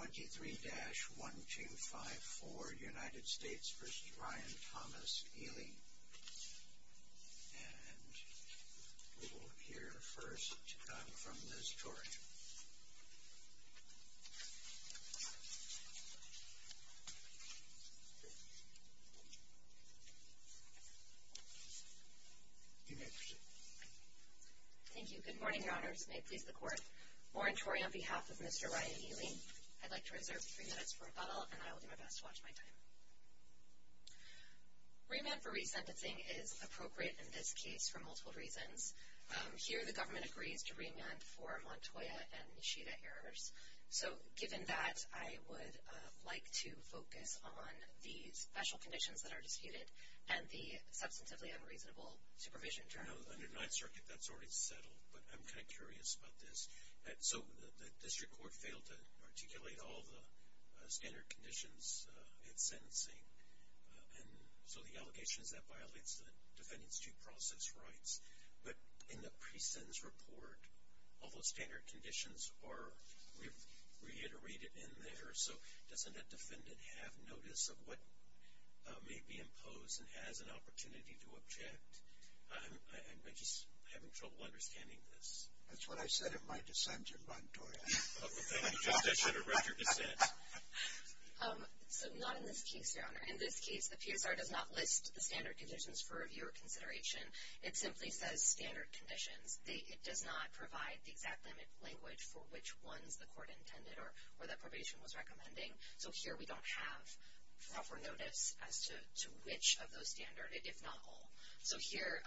23-1254 United States v. Ryan Thomas, Eley and we will hear first from Liz Torrey. You may proceed. Thank you. Good morning, Your Honors. May it please the Court. Warren Torrey on behalf of Mr. Ryan Eley. I'd like to reserve three minutes for rebuttal and I will do my best to watch my time. Remand for resentencing is appropriate in this case for multiple reasons. Here the government agrees to remand for Montoya and Nishida errors. So given that, I would like to focus on the special conditions that are disputed and the Substantively Unreasonable Supervision Term. Under Ninth Circuit, that's already settled, but I'm kind of curious about this. So the district court failed to articulate all the standard conditions in sentencing. And so the allegation is that violates the defendant's due process rights. But in the pre-sentence report, all those standard conditions are reiterated in there. So doesn't that defendant have notice of what may be imposed and has an opportunity to object? I'm just having trouble understanding this. That's what I said in my dissent in Montoya. The defendant just issued a record dissent. So not in this case, Your Honor. In this case, the PSR does not list the standard conditions for review or consideration. It simply says standard conditions. It does not provide the exact language for which ones the court intended or that probation was recommending. So here we don't have proper notice as to which of those standard, if not all. So here,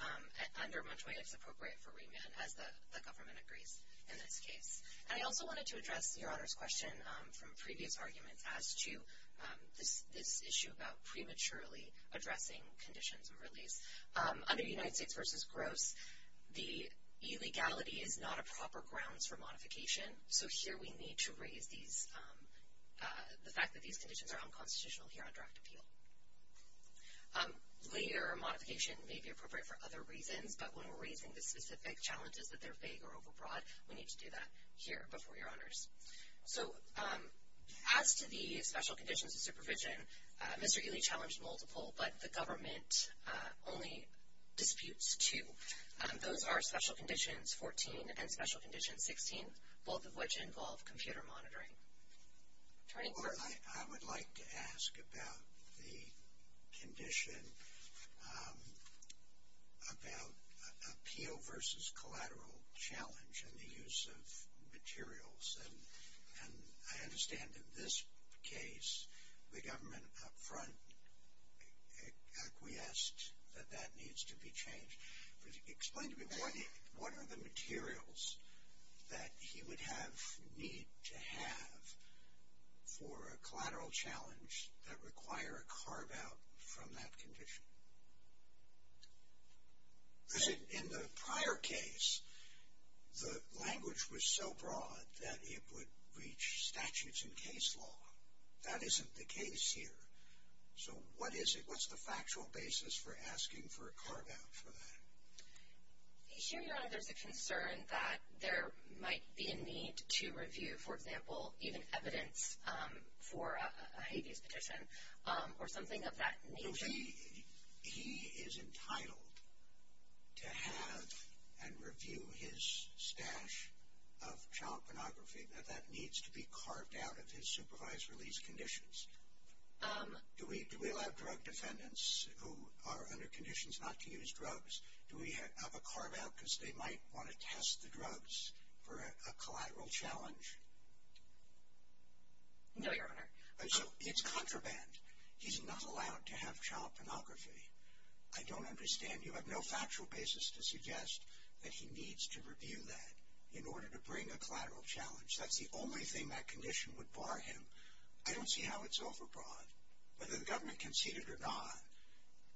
under Montoya, it's appropriate for remand, as the government agrees in this case. And I also wanted to address Your Honor's question from previous arguments as to this issue about prematurely addressing conditions of release. Under United States v. Gross, the illegality is not a proper grounds for modification. So here we need to raise the fact that these conditions are unconstitutional here on draft appeal. Layer modification may be appropriate for other reasons, but when we're raising the specific challenges that they're vague or overbroad, we need to do that here before Your Honors. So as to the special conditions of supervision, Mr. Ely challenged multiple, but the government only disputes two. Those are special conditions 14 and special conditions 16, both of which involve computer monitoring. Attorney? I would like to ask about the condition about appeal v. collateral challenge and the use of materials. And I understand in this case the government up front acquiesced that that needs to be changed. Explain to me what are the materials that he would need to have for a collateral challenge that require a carve-out from that condition? In the prior case, the language was so broad that it would reach statutes and case law. That isn't the case here. So what is it? What's the factual basis for asking for a carve-out for that? Here, Your Honor, there's a concern that there might be a need to review, for example, even evidence for a habeas petition or something of that nature. So he is entitled to have and review his stash of child pornography, that that needs to be carved out of his supervised release conditions. Do we allow drug defendants who are under conditions not to use drugs, do we have a carve-out because they might want to test the drugs for a collateral challenge? No, Your Honor. So it's contraband. He's not allowed to have child pornography. I don't understand. You have no factual basis to suggest that he needs to review that in order to bring a collateral challenge. That's the only thing that condition would bar him. I don't see how it's overbroad. Whether the government conceded or not,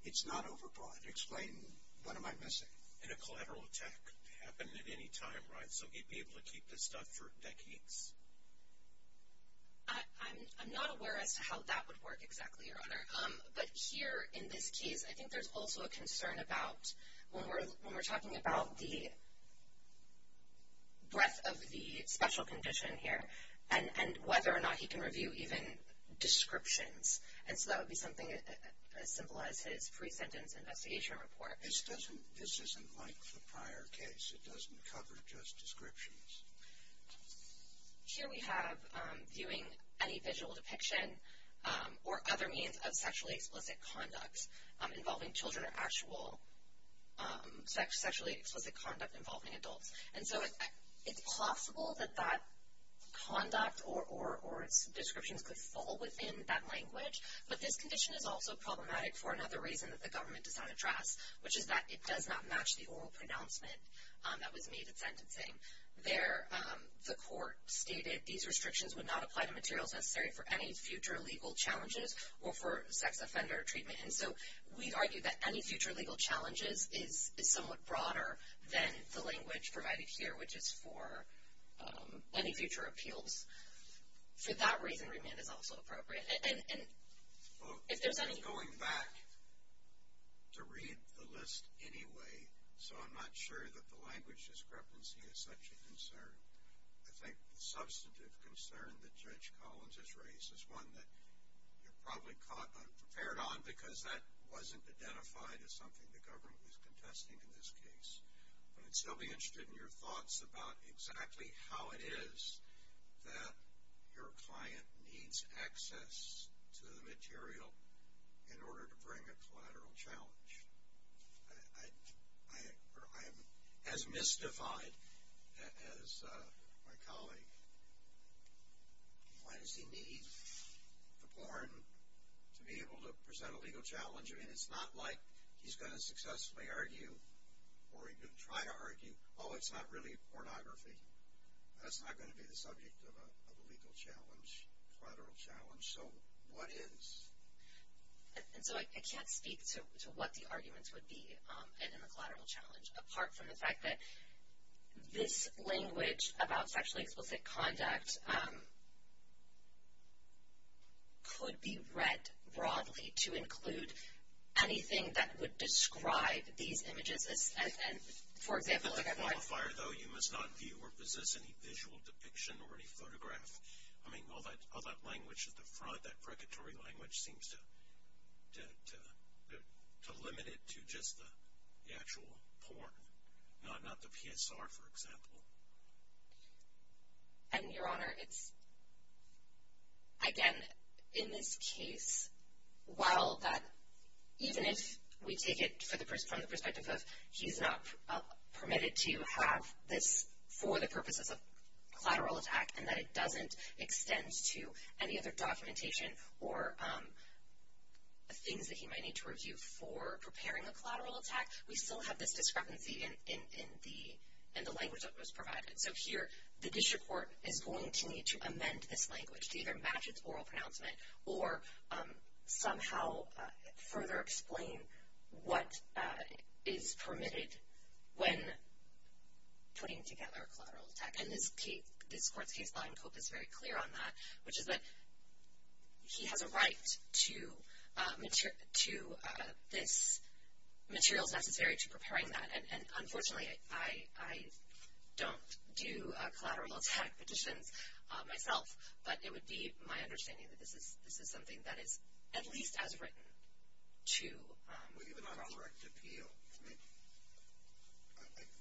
it's not overbroad. Explain what am I missing. And a collateral attack could happen at any time, right? So he'd be able to keep this stuff for decades. I'm not aware as to how that would work exactly, Your Honor. But here in this case, I think there's also a concern about when we're talking about the breadth of the special condition here and whether or not he can review even descriptions. And so that would be something as simple as his pre-sentence investigation report. This isn't like the prior case. It doesn't cover just descriptions. Here we have viewing any visual depiction or other means of sexually explicit conduct involving children or actual sexually explicit conduct involving adults. And so it's possible that that conduct or its descriptions could fall within that language. But this condition is also problematic for another reason that the government does not address, which is that it does not match the oral pronouncement that was made at sentencing. The court stated these restrictions would not apply to materials necessary for any future legal challenges or for sex offender treatment. And so we argue that any future legal challenges is somewhat broader than the language provided here, which is for any future appeals. For that reason, remand is also appropriate. I'm going back to read the list anyway, so I'm not sure that the language discrepancy is such a concern. I think the substantive concern that Judge Collins has raised is one that you're probably caught unprepared on because that wasn't identified as something the government was contesting in this case. But I'd still be interested in your thoughts about exactly how it is that your client needs access to the material in order to bring a collateral challenge. I'm as mystified as my colleague. Why does he need the porn to be able to present a legal challenge? I mean, it's not like he's going to successfully argue or even try to argue, oh, it's not really pornography. That's not going to be the subject of a legal challenge, collateral challenge. So what is? And so I can't speak to what the arguments would be in the collateral challenge, apart from the fact that this language about sexually explicit conduct could be read broadly to include anything that would describe these images. For example, like I've read. With the qualifier, though, you must not view or possess any visual depiction or any photograph. I mean, all that language at the front, that precatory language, seems to limit it to just the actual porn, not the PSR, for example. And, Your Honor, it's, again, in this case, while that even if we take it from the perspective of he's not permitted to have this for the purposes of collateral attack and that it doesn't extend to any other documentation or things that he might need to review for preparing a collateral attack, we still have this discrepancy in the language that was provided. So here, the district court is going to need to amend this language to either match its oral pronouncement or somehow further explain what is permitted when putting together a collateral attack. And this court's case law in COPE is very clear on that, which is that he has a right to this materials necessary to preparing that. And, unfortunately, I don't do collateral attack petitions myself, but it would be my understanding that this is something that is at least as written to. Correct appeal.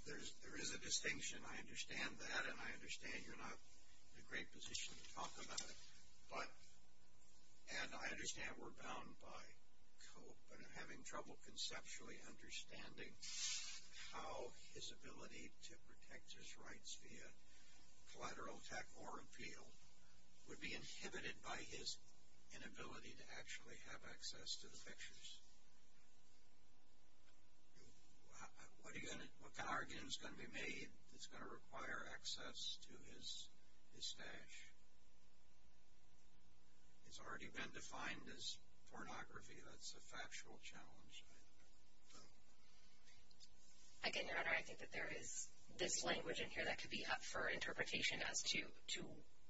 There is a distinction. I understand that, and I understand you're not in a great position to talk about it. But, and I understand we're bound by COPE, but I'm having trouble conceptually understanding how his ability to protect his rights via collateral attack or appeal would be inhibited by his inability to actually have access to the pictures. What kind of argument is going to be made that's going to require access to his stash? It's already been defined as pornography. That's a factual challenge. Again, Your Honor, I think that there is this language in here that could be up for interpretation as to,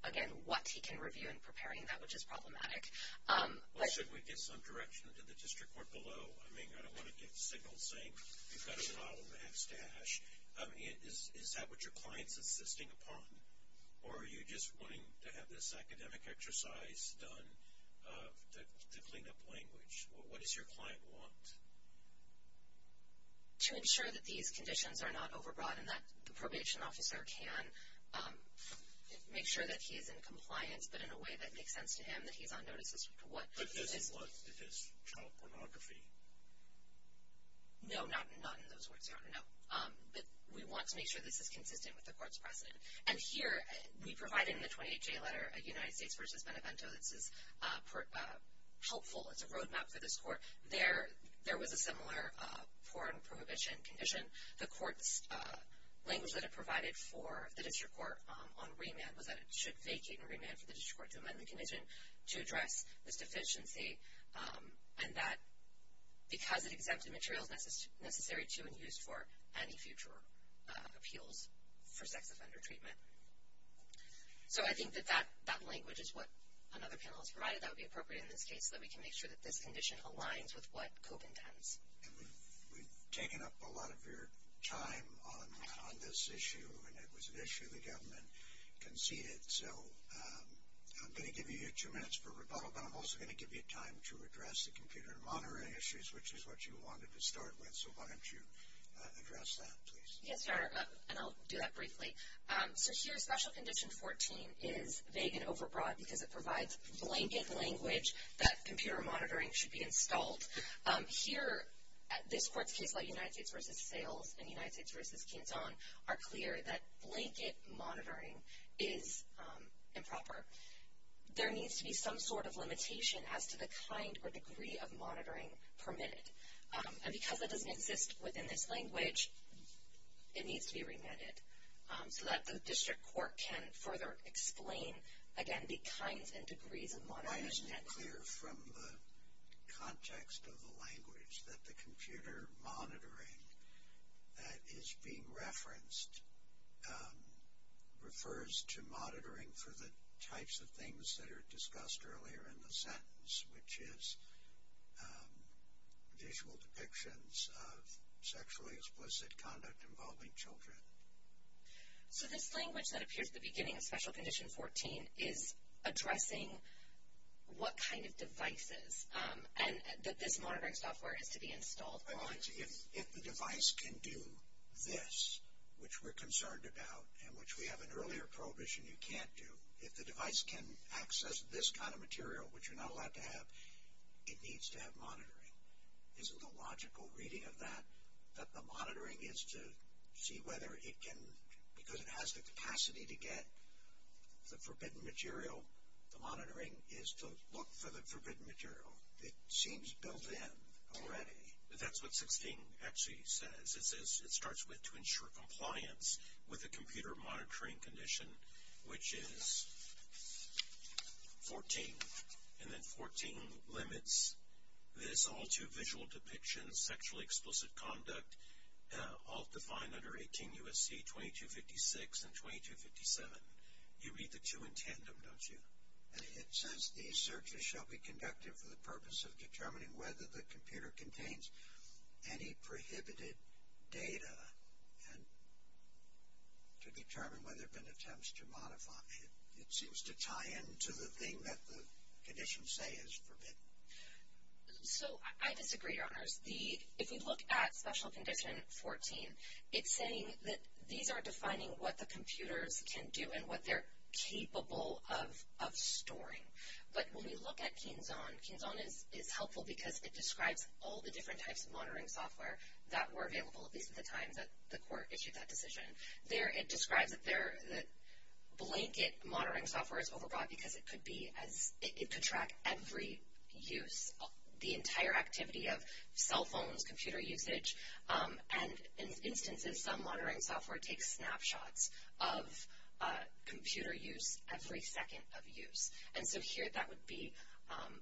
again, what he can review in preparing that, which is problematic. Well, shouldn't we give some direction to the district court below? I mean, I don't want to give the signal saying you've got to file a max stash. I mean, is that what your client's insisting upon? Or are you just wanting to have this academic exercise done to clean up language? What does your client want? To ensure that these conditions are not overbrought and that the probation officer can make sure that he is in compliance, but in a way that makes sense to him, that he's on notice as to what this is. But this is what? This is child pornography? No, not in those words, Your Honor, no. But we want to make sure this is consistent with the court's precedent. And here, we provide in the 28-J letter, United States v. Benevento, this is helpful. It's a roadmap for this court. There was a similar porn prohibition condition. The court's language that it provided for the district court on remand was that it should vacate and remand for the district court to amend the condition to address this deficiency, and that because it exempted materials necessary to and used for any future appeals for sex offender treatment. So I think that that language is what another panelist provided. That would be appropriate in this case, so that we can make sure that this condition aligns with what COPE intends. And we've taken up a lot of your time on this issue, and it was an issue the government conceded. So I'm going to give you two minutes for rebuttal, but I'm also going to give you time to address the computer and monitoring issues, which is what you wanted to start with. So why don't you address that, please? Yes, Your Honor, and I'll do that briefly. So here, Special Condition 14 is vague and overbroad because it provides blanket language that computer monitoring should be installed. Here, this court's case law, United States v. Sales and United States v. Canton, are clear that blanket monitoring is improper. There needs to be some sort of limitation as to the kind or degree of monitoring permitted. And because it doesn't exist within this language, it needs to be remitted so that the district court can further explain, again, the kinds and degrees of monitoring. I'm not clear from the context of the language that the computer monitoring that is being referenced refers to monitoring for the types of things that are discussed earlier in the sentence, which is visual depictions of sexually explicit conduct involving children. So this language that appears at the beginning of Special Condition 14 is addressing what kind of devices and that this monitoring software has to be installed. If the device can do this, which we're concerned about and which we have an earlier prohibition you can't do, if the device can access this kind of material, which you're not allowed to have, it needs to have monitoring. Is it a logical reading of that, that the monitoring is to see whether it can, because it has the capacity to get the forbidden material, the monitoring is to look for the forbidden material? It seems built in already. That's what 16 actually says. It starts with to ensure compliance with the computer monitoring condition, which is 14. And then 14 limits this all to visual depictions, sexually explicit conduct, all defined under 18 U.S.C. 2256 and 2257. You read the two in tandem, don't you? And it says these searches shall be conducted for the purpose of determining whether the computer contains any prohibited data and to determine whether there have been attempts to modify it. It seems to tie into the thing that the conditions say is forbidden. So I disagree, Your Honors. If we look at Special Condition 14, it's saying that these are defining what the computers can do and what they're capable of storing. But when we look at KeenZone, KeenZone is helpful because it describes all the different types of monitoring software that were available, at least at the time that the court issued that decision. It describes that blanket monitoring software is overwrought because it could track every use, the entire activity of cell phones, computer usage. And in instances, some monitoring software takes snapshots of computer use every second of use. And so here that would be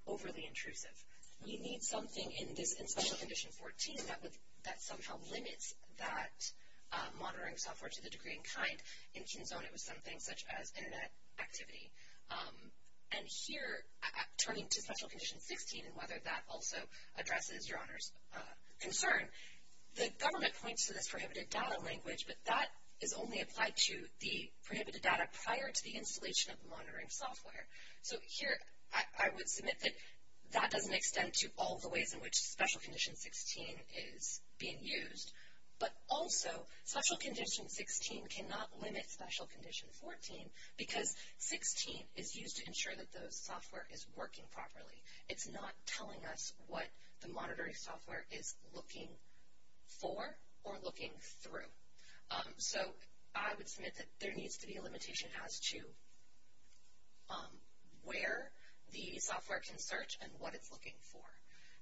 overly intrusive. We need something in Special Condition 14 that somehow limits that monitoring software to the degree and kind. In KeenZone, it was something such as internet activity. And here, turning to Special Condition 16 and whether that also addresses Your Honors' concern, the government points to this prohibited data language, but that is only applied to the prohibited data prior to the installation of the monitoring software. So here I would submit that that doesn't extend to all the ways in which Special Condition 16 is being used. But also, Special Condition 16 cannot limit Special Condition 14 because 16 is used to ensure that the software is working properly. It's not telling us what the monitoring software is looking for or looking through. So I would submit that there needs to be a limitation as to where the software can search and what it's looking for.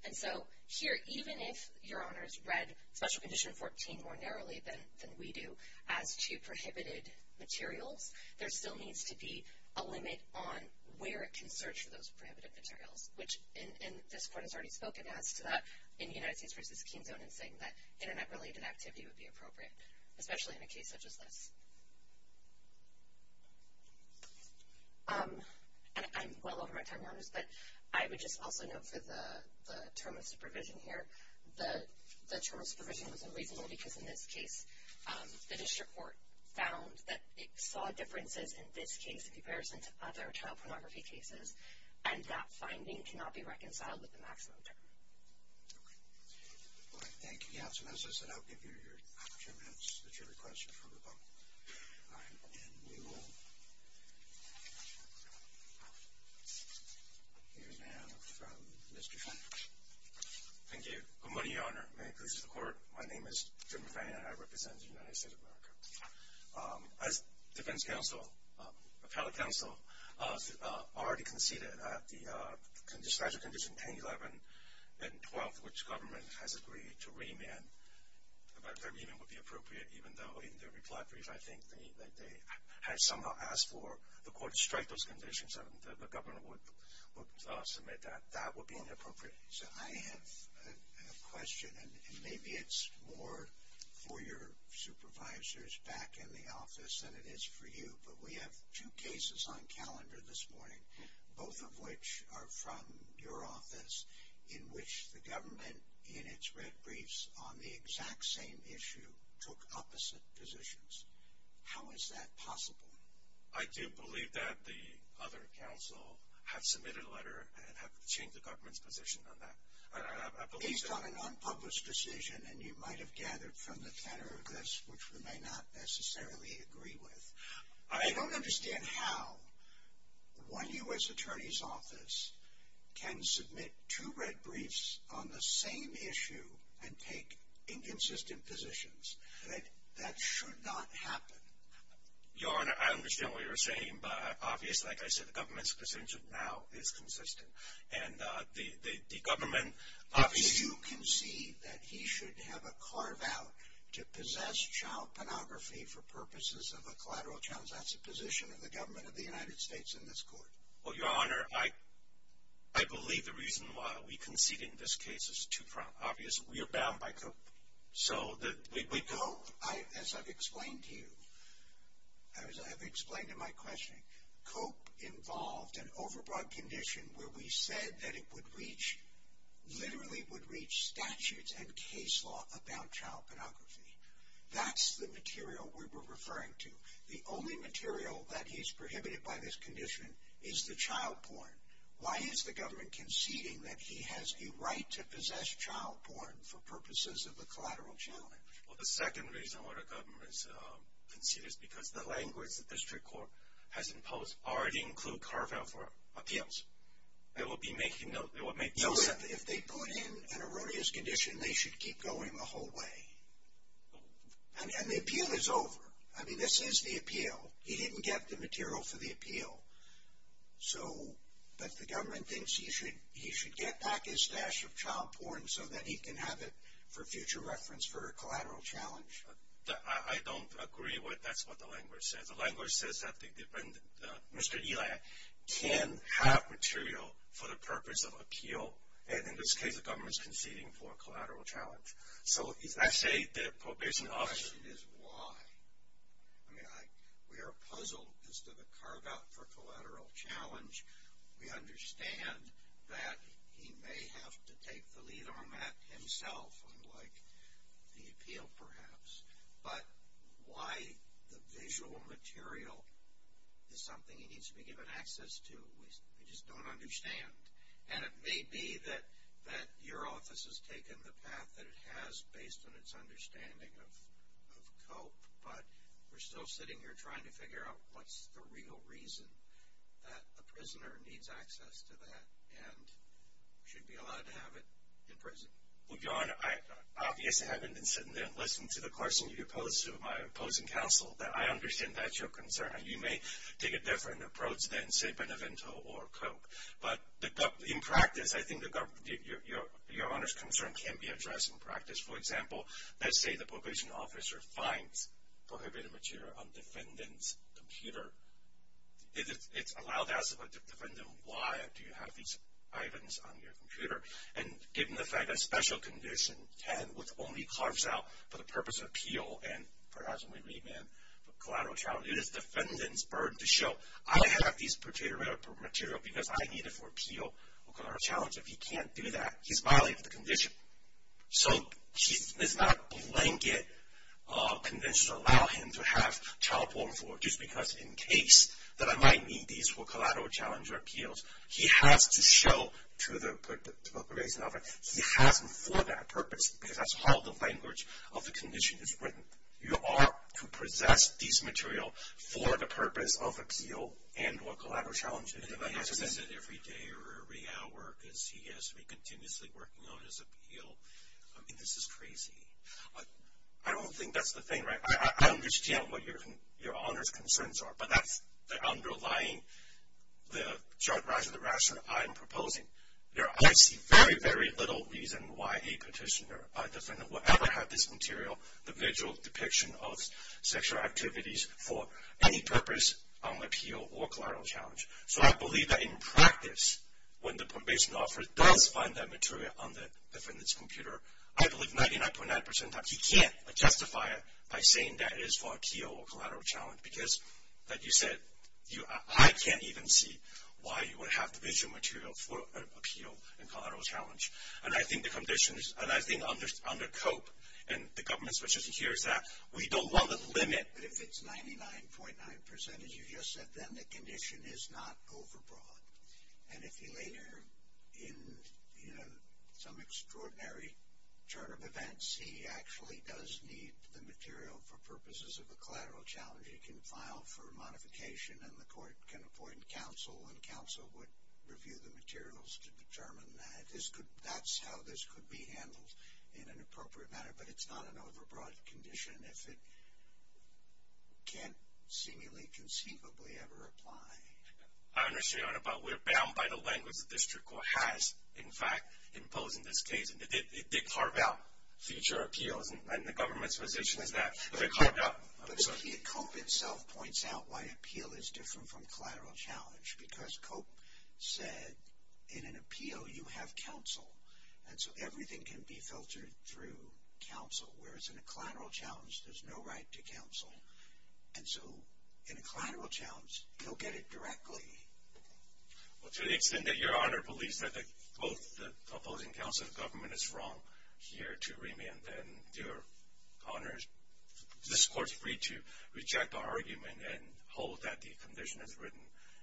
And so here, even if Your Honors read Special Condition 14 more narrowly than we do, as to prohibited materials, there still needs to be a limit on where it can search for those prohibited materials, which this Court has already spoken as to that in the United States versus KeenZone in saying that internet-related activity would be appropriate, especially in a case such as this. And I'm well over my time, Your Honors, but I would just also note for the term of supervision here, the term of supervision was unreasonable because, in this case, the district court found that it saw differences in this case in comparison to other child pornography cases, and that finding cannot be reconciled with the maximum term. Okay. All right. Thank you, Your Honors. And as I said, I'll give you your opportunity to submit your request for approval. And we will hear now from Mr. Frank. Thank you. Good morning, Your Honor. May it please the Court. My name is Jim Fann, and I represent the United States of America. As defense counsel, appellate counsel, already conceded at the Special Condition 1011 and 12, which government has agreed to remand, that remand would be appropriate, even though in their reply brief, I think that they had somehow asked for the Court to strike those conditions, and the government would submit that. That would be inappropriate. So I have a question, and maybe it's more for your supervisors back in the office than it is for you, but we have two cases on calendar this morning, both of which are from your office, in which the government, in its red briefs on the exact same issue, took opposite positions. How is that possible? I do believe that the other counsel have submitted a letter and have changed the government's position on that. Based on an unpublished decision, and you might have gathered from the tenor of this, which we may not necessarily agree with, I don't understand how one U.S. Attorney's Office can submit two red briefs on the same issue and take inconsistent positions. That should not happen. Your Honor, I understand what you're saying, but obviously, like I said, the government's position now is consistent. And the government obviously… But you concede that he should have a carve-out to possess child pornography for purposes of a collateral challenge. That's the position of the government of the United States in this Court. Well, Your Honor, I believe the reason why we conceded in this case is too obvious. We are bound by code. Code, as I've explained to you, as I've explained in my questioning, code involved an overbroad condition where we said that it would reach, literally would reach statutes and case law about child pornography. That's the material we were referring to. The only material that is prohibited by this condition is the child porn. Why is the government conceding that he has a right to possess child porn for purposes of a collateral challenge? Well, the second reason why the government conceded is because the language the district court has imposed already includes carve-out for appeals. They will be making no… No, if they put in an erroneous condition, they should keep going the whole way. And the appeal is over. I mean, this is the appeal. He didn't get the material for the appeal. So, but the government thinks he should get back his stash of child porn so that he can have it for future reference for a collateral challenge. I don't agree with that's what the language says. The language says that the defendant, Mr. Eliak, can have material for the purpose of appeal. And in this case, the government is conceding for a collateral challenge. So, I say the provision of… The question is why. I mean, we are puzzled as to the carve-out for collateral challenge. We understand that he may have to take the lead on that himself, unlike the appeal, perhaps. But why the visual material is something he needs to be given access to, we just don't understand. And it may be that your office has taken the path that it has based on its understanding of cope. But we're still sitting here trying to figure out what's the real reason that a prisoner needs access to that and should be allowed to have it in prison. Well, Your Honor, I obviously haven't been sitting there listening to the question you posed to my opposing counsel. I understand that's your concern. You may take a different approach than, say, Benevento or cope. But in practice, I think Your Honor's concern can be addressed in practice. For example, let's say the probation officer finds prohibited material on the defendant's computer. It's allowed to ask the defendant, why do you have these items on your computer? And given the fact that special condition 10, which only carves out for the purpose of appeal and perhaps may remain collateral challenge, it is the defendant's burden to show, I have this particular material because I need it for appeal or collateral challenge. If he can't do that, he's violating the condition. So it's not a blanket condition to allow him to have childborn for, just because in case that I might need these for collateral challenge or appeals. He has to show to the probation officer he has them for that purpose because that's how the language of the condition is written. You are to possess these materials for the purpose of appeal and for collateral challenge. And if I have to send it every day or every hour because he has to be continuously working on his appeal, I mean, this is crazy. I don't think that's the thing, right? I understand what Your Honor's concerns are, but that's the underlying, the short rise of the rationale I'm proposing. I see very, very little reason why a petitioner, a defendant, will ever have this material, the visual depiction of sexual activities for any purpose on appeal or collateral challenge. So I believe that in practice, when the probation officer does find that material on the defendant's computer, I believe 99.9% of the time he can't justify it by saying that it is for appeal or collateral challenge because, like you said, I can't even see why you would have the visual material for appeal and collateral challenge. And I think the conditions, and I think under COPE, and the government's position here is that we don't want the limit but if it's 99.9%, as you just said, then the condition is not overbroad. And if he later, in some extraordinary turn of events, he actually does need the material for purposes of a collateral challenge, he can file for modification and the court can appoint counsel and counsel would review the materials to determine that. That's how this could be handled in an appropriate manner, but it's not an overbroad condition. It can't seemingly, conceivably ever apply. I understand, but we're bound by the language the district court has, in fact, imposed in this case, and it did carve out future appeals and the government's position is that if it carved out... But COPE itself points out why appeal is different from collateral challenge because COPE said in an appeal you have counsel and so everything can be filtered through counsel, whereas in a collateral challenge there's no right to counsel, and so in a collateral challenge you'll get it directly. Well, to the extent that Your Honor believes that both the opposing counsel and the government is wrong here to remand, then Your Honor, this court's free to reject our argument and hold that the condition is written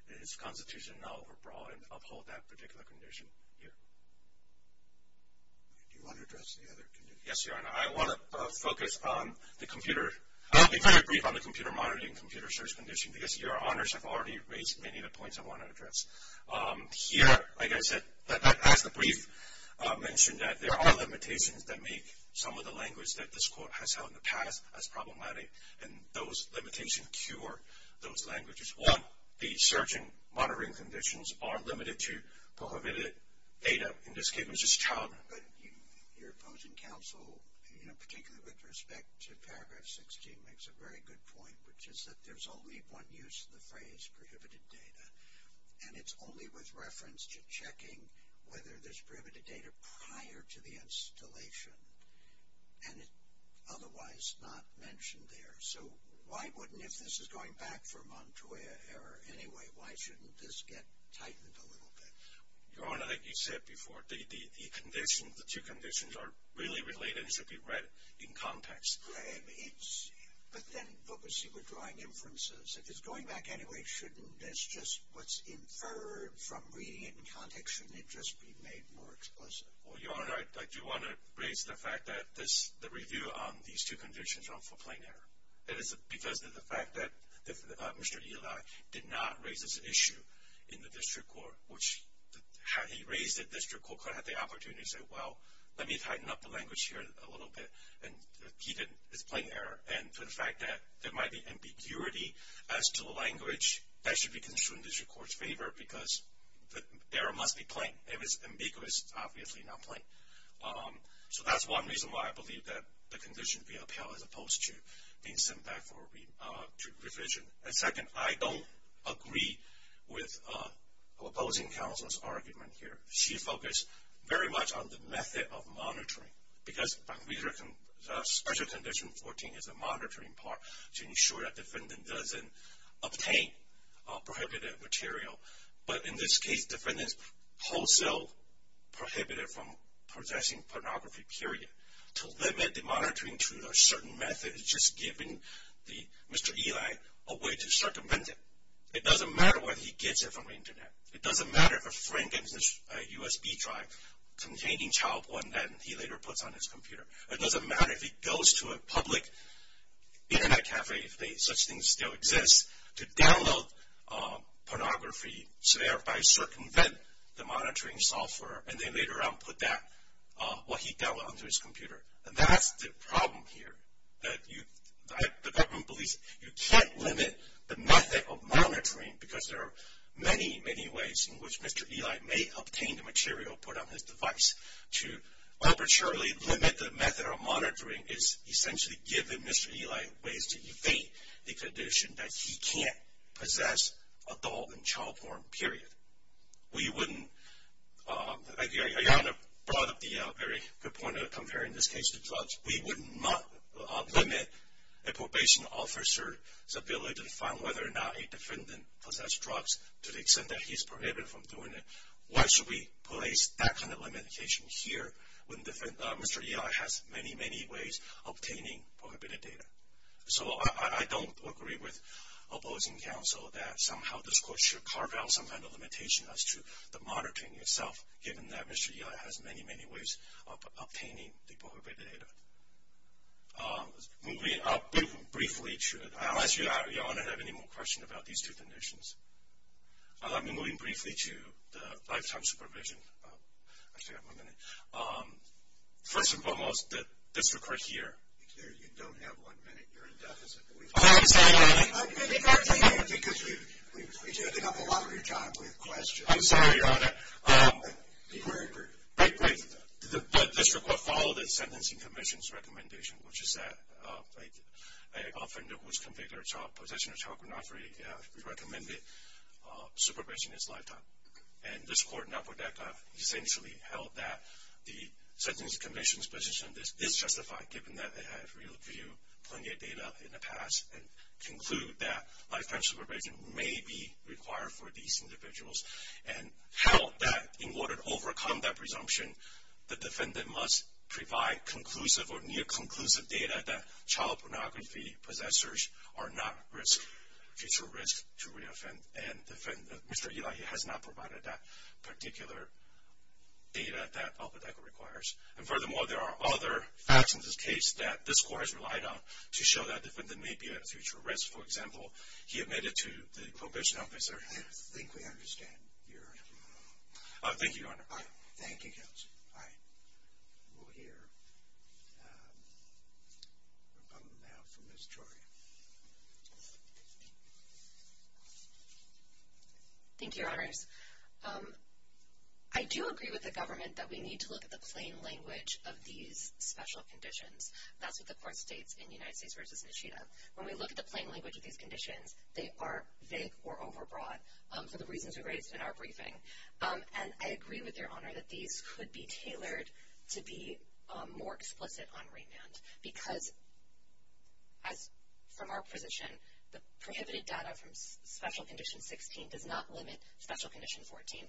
in its constitution not overbroad and uphold that particular condition here. Do you want to address the other condition? Yes, Your Honor. I want to focus on the computer... I'll be kind of brief on the computer monitoring and computer search condition because Your Honors have already raised many of the points I want to address. Here, like I said, as the brief mentioned, there are limitations that make some of the language that this court has held in the past as problematic, and those limitations cure those languages. One, the search and monitoring conditions are limited to prohibited data. But Your Opposing Counsel, particularly with respect to Paragraph 16, makes a very good point, which is that there's only one use of the phrase prohibited data, and it's only with reference to checking whether there's prohibited data prior to the installation and otherwise not mentioned there. So why wouldn't, if this is going back for Montoya error anyway, why shouldn't this get tightened a little bit? Your Honor, like you said before, the conditions, the two conditions are really related and should be read in context. But then focusing with drawing inferences, if it's going back anyway, shouldn't this just what's inferred from reading it in context, shouldn't it just be made more explicit? Well, Your Honor, I do want to raise the fact that the review on these two conditions are for plain error because of the fact that Mr. Eli did not raise this issue in the district court, which had he raised it, the district court could have had the opportunity to say, well, let me tighten up the language here a little bit and keep it as plain error. And for the fact that there might be ambiguity as to the language, that should be construed in the district court's favor because the error must be plain. If it's ambiguous, it's obviously not plain. So that's one reason why I believe that the conditions be upheld as opposed to being sent back to revision. And second, I don't agree with opposing counsel's argument here. She focused very much on the method of monitoring because Special Condition 14 is the monitoring part to ensure that defendant doesn't obtain prohibited material. But in this case, defendant's wholesale prohibited from possessing pornography, period. To limit the monitoring to a certain method is just giving Mr. Eli a way to circumvent it. It doesn't matter whether he gets it from the Internet. It doesn't matter if a friend gets a USB drive containing child porn that he later puts on his computer. It doesn't matter if he goes to a public Internet cafe, if such a thing still exists, to download pornography, thereby circumvent the monitoring software, and they later on put that, what he downloaded onto his computer. And that's the problem here. The government believes you can't limit the method of monitoring because there are many, many ways in which Mr. Eli may obtain the material put on his device. To arbitrarily limit the method of monitoring is essentially giving Mr. Eli ways to evade the condition We wouldn't limit a probation officer's ability to find whether or not a defendant possess drugs to the extent that he's prohibited from doing it. Why should we place that kind of limitation here when Mr. Eli has many, many ways of obtaining prohibited data? So I don't agree with opposing counsel that somehow this court should carve out some kind of limitation as to the monitoring itself, given that Mr. Eli has many, many ways of obtaining the prohibited data. Moving up briefly, unless you all don't have any more questions about these two conditions. Moving briefly to the lifetime supervision, first and foremost, this record here. You don't have one minute. You're in deficit. I'm sorry, Your Honor. Because you're ending up a lot of your time with questions. I'm sorry, Your Honor. But this record followed the Sentencing Commission's recommendation, which is that an offender who is convicted of possession of child pornography is recommended supervision his lifetime. And this court in Apodaca essentially held that the Sentencing Commission's position is justified, given that they have reviewed plenty of data in the past and conclude that lifetime supervision may be required for these individuals. And held that in order to overcome that presumption, the defendant must provide conclusive or near-conclusive data that child pornography possessors are not at future risk to reoffend. And Mr. Eli has not provided that particular data that Apodaca requires. And furthermore, there are other facts in this case that this court has relied on to show that the defendant may be at future risk. For example, he admitted to the probation officer. I think we understand. Thank you, Your Honor. Thank you, Counsel. All right. We'll hear from Ms. Troy. Thank you, Your Honors. I do agree with the government that we need to look at the plain language of these special conditions. That's what the court states in United States v. Nishida. When we look at the plain language of these conditions, they are vague or overbroad for the reasons we raised in our briefing. And I agree with Your Honor that these could be tailored to be more explicit on remand, because as from our position, the prohibited data from Special Condition 16 does not limit Special Condition 14.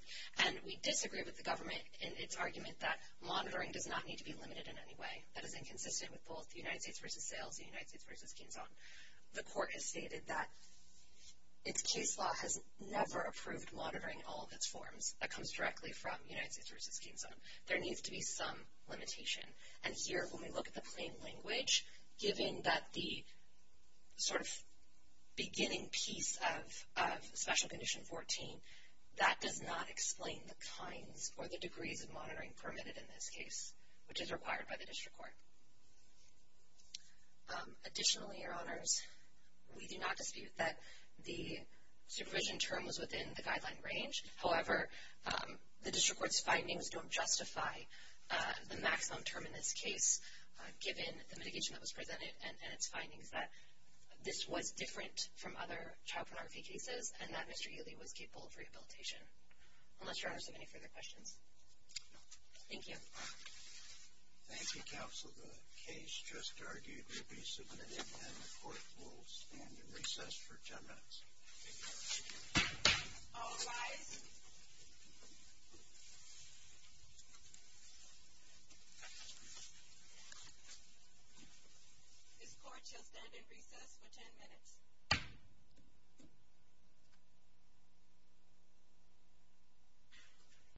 And we disagree with the government in its argument that monitoring does not need to be limited in any way. That is inconsistent with both United States v. Sales and United States v. Kinzon. The court has stated that its case law has never approved monitoring all of its forms. That comes directly from United States v. Kinzon. There needs to be some limitation. And here, when we look at the plain language, given that the sort of beginning piece of Special Condition 14, that does not explain the kinds or the degrees of monitoring permitted in this case, which is required by the district court. Additionally, Your Honors, we do not dispute that the supervision term was within the guideline range. However, the district court's findings don't justify the maximum term in this case, given the mitigation that was presented and its findings that this was different from other child pornography cases, and that Mr. Ely was capable of rehabilitation, unless Your Honors have any further questions. Thank you. Thank you, Counsel. The case just argued will be submitted, and the court will stand in recess for 10 minutes. All rise. This court shall stand in recess for 10 minutes.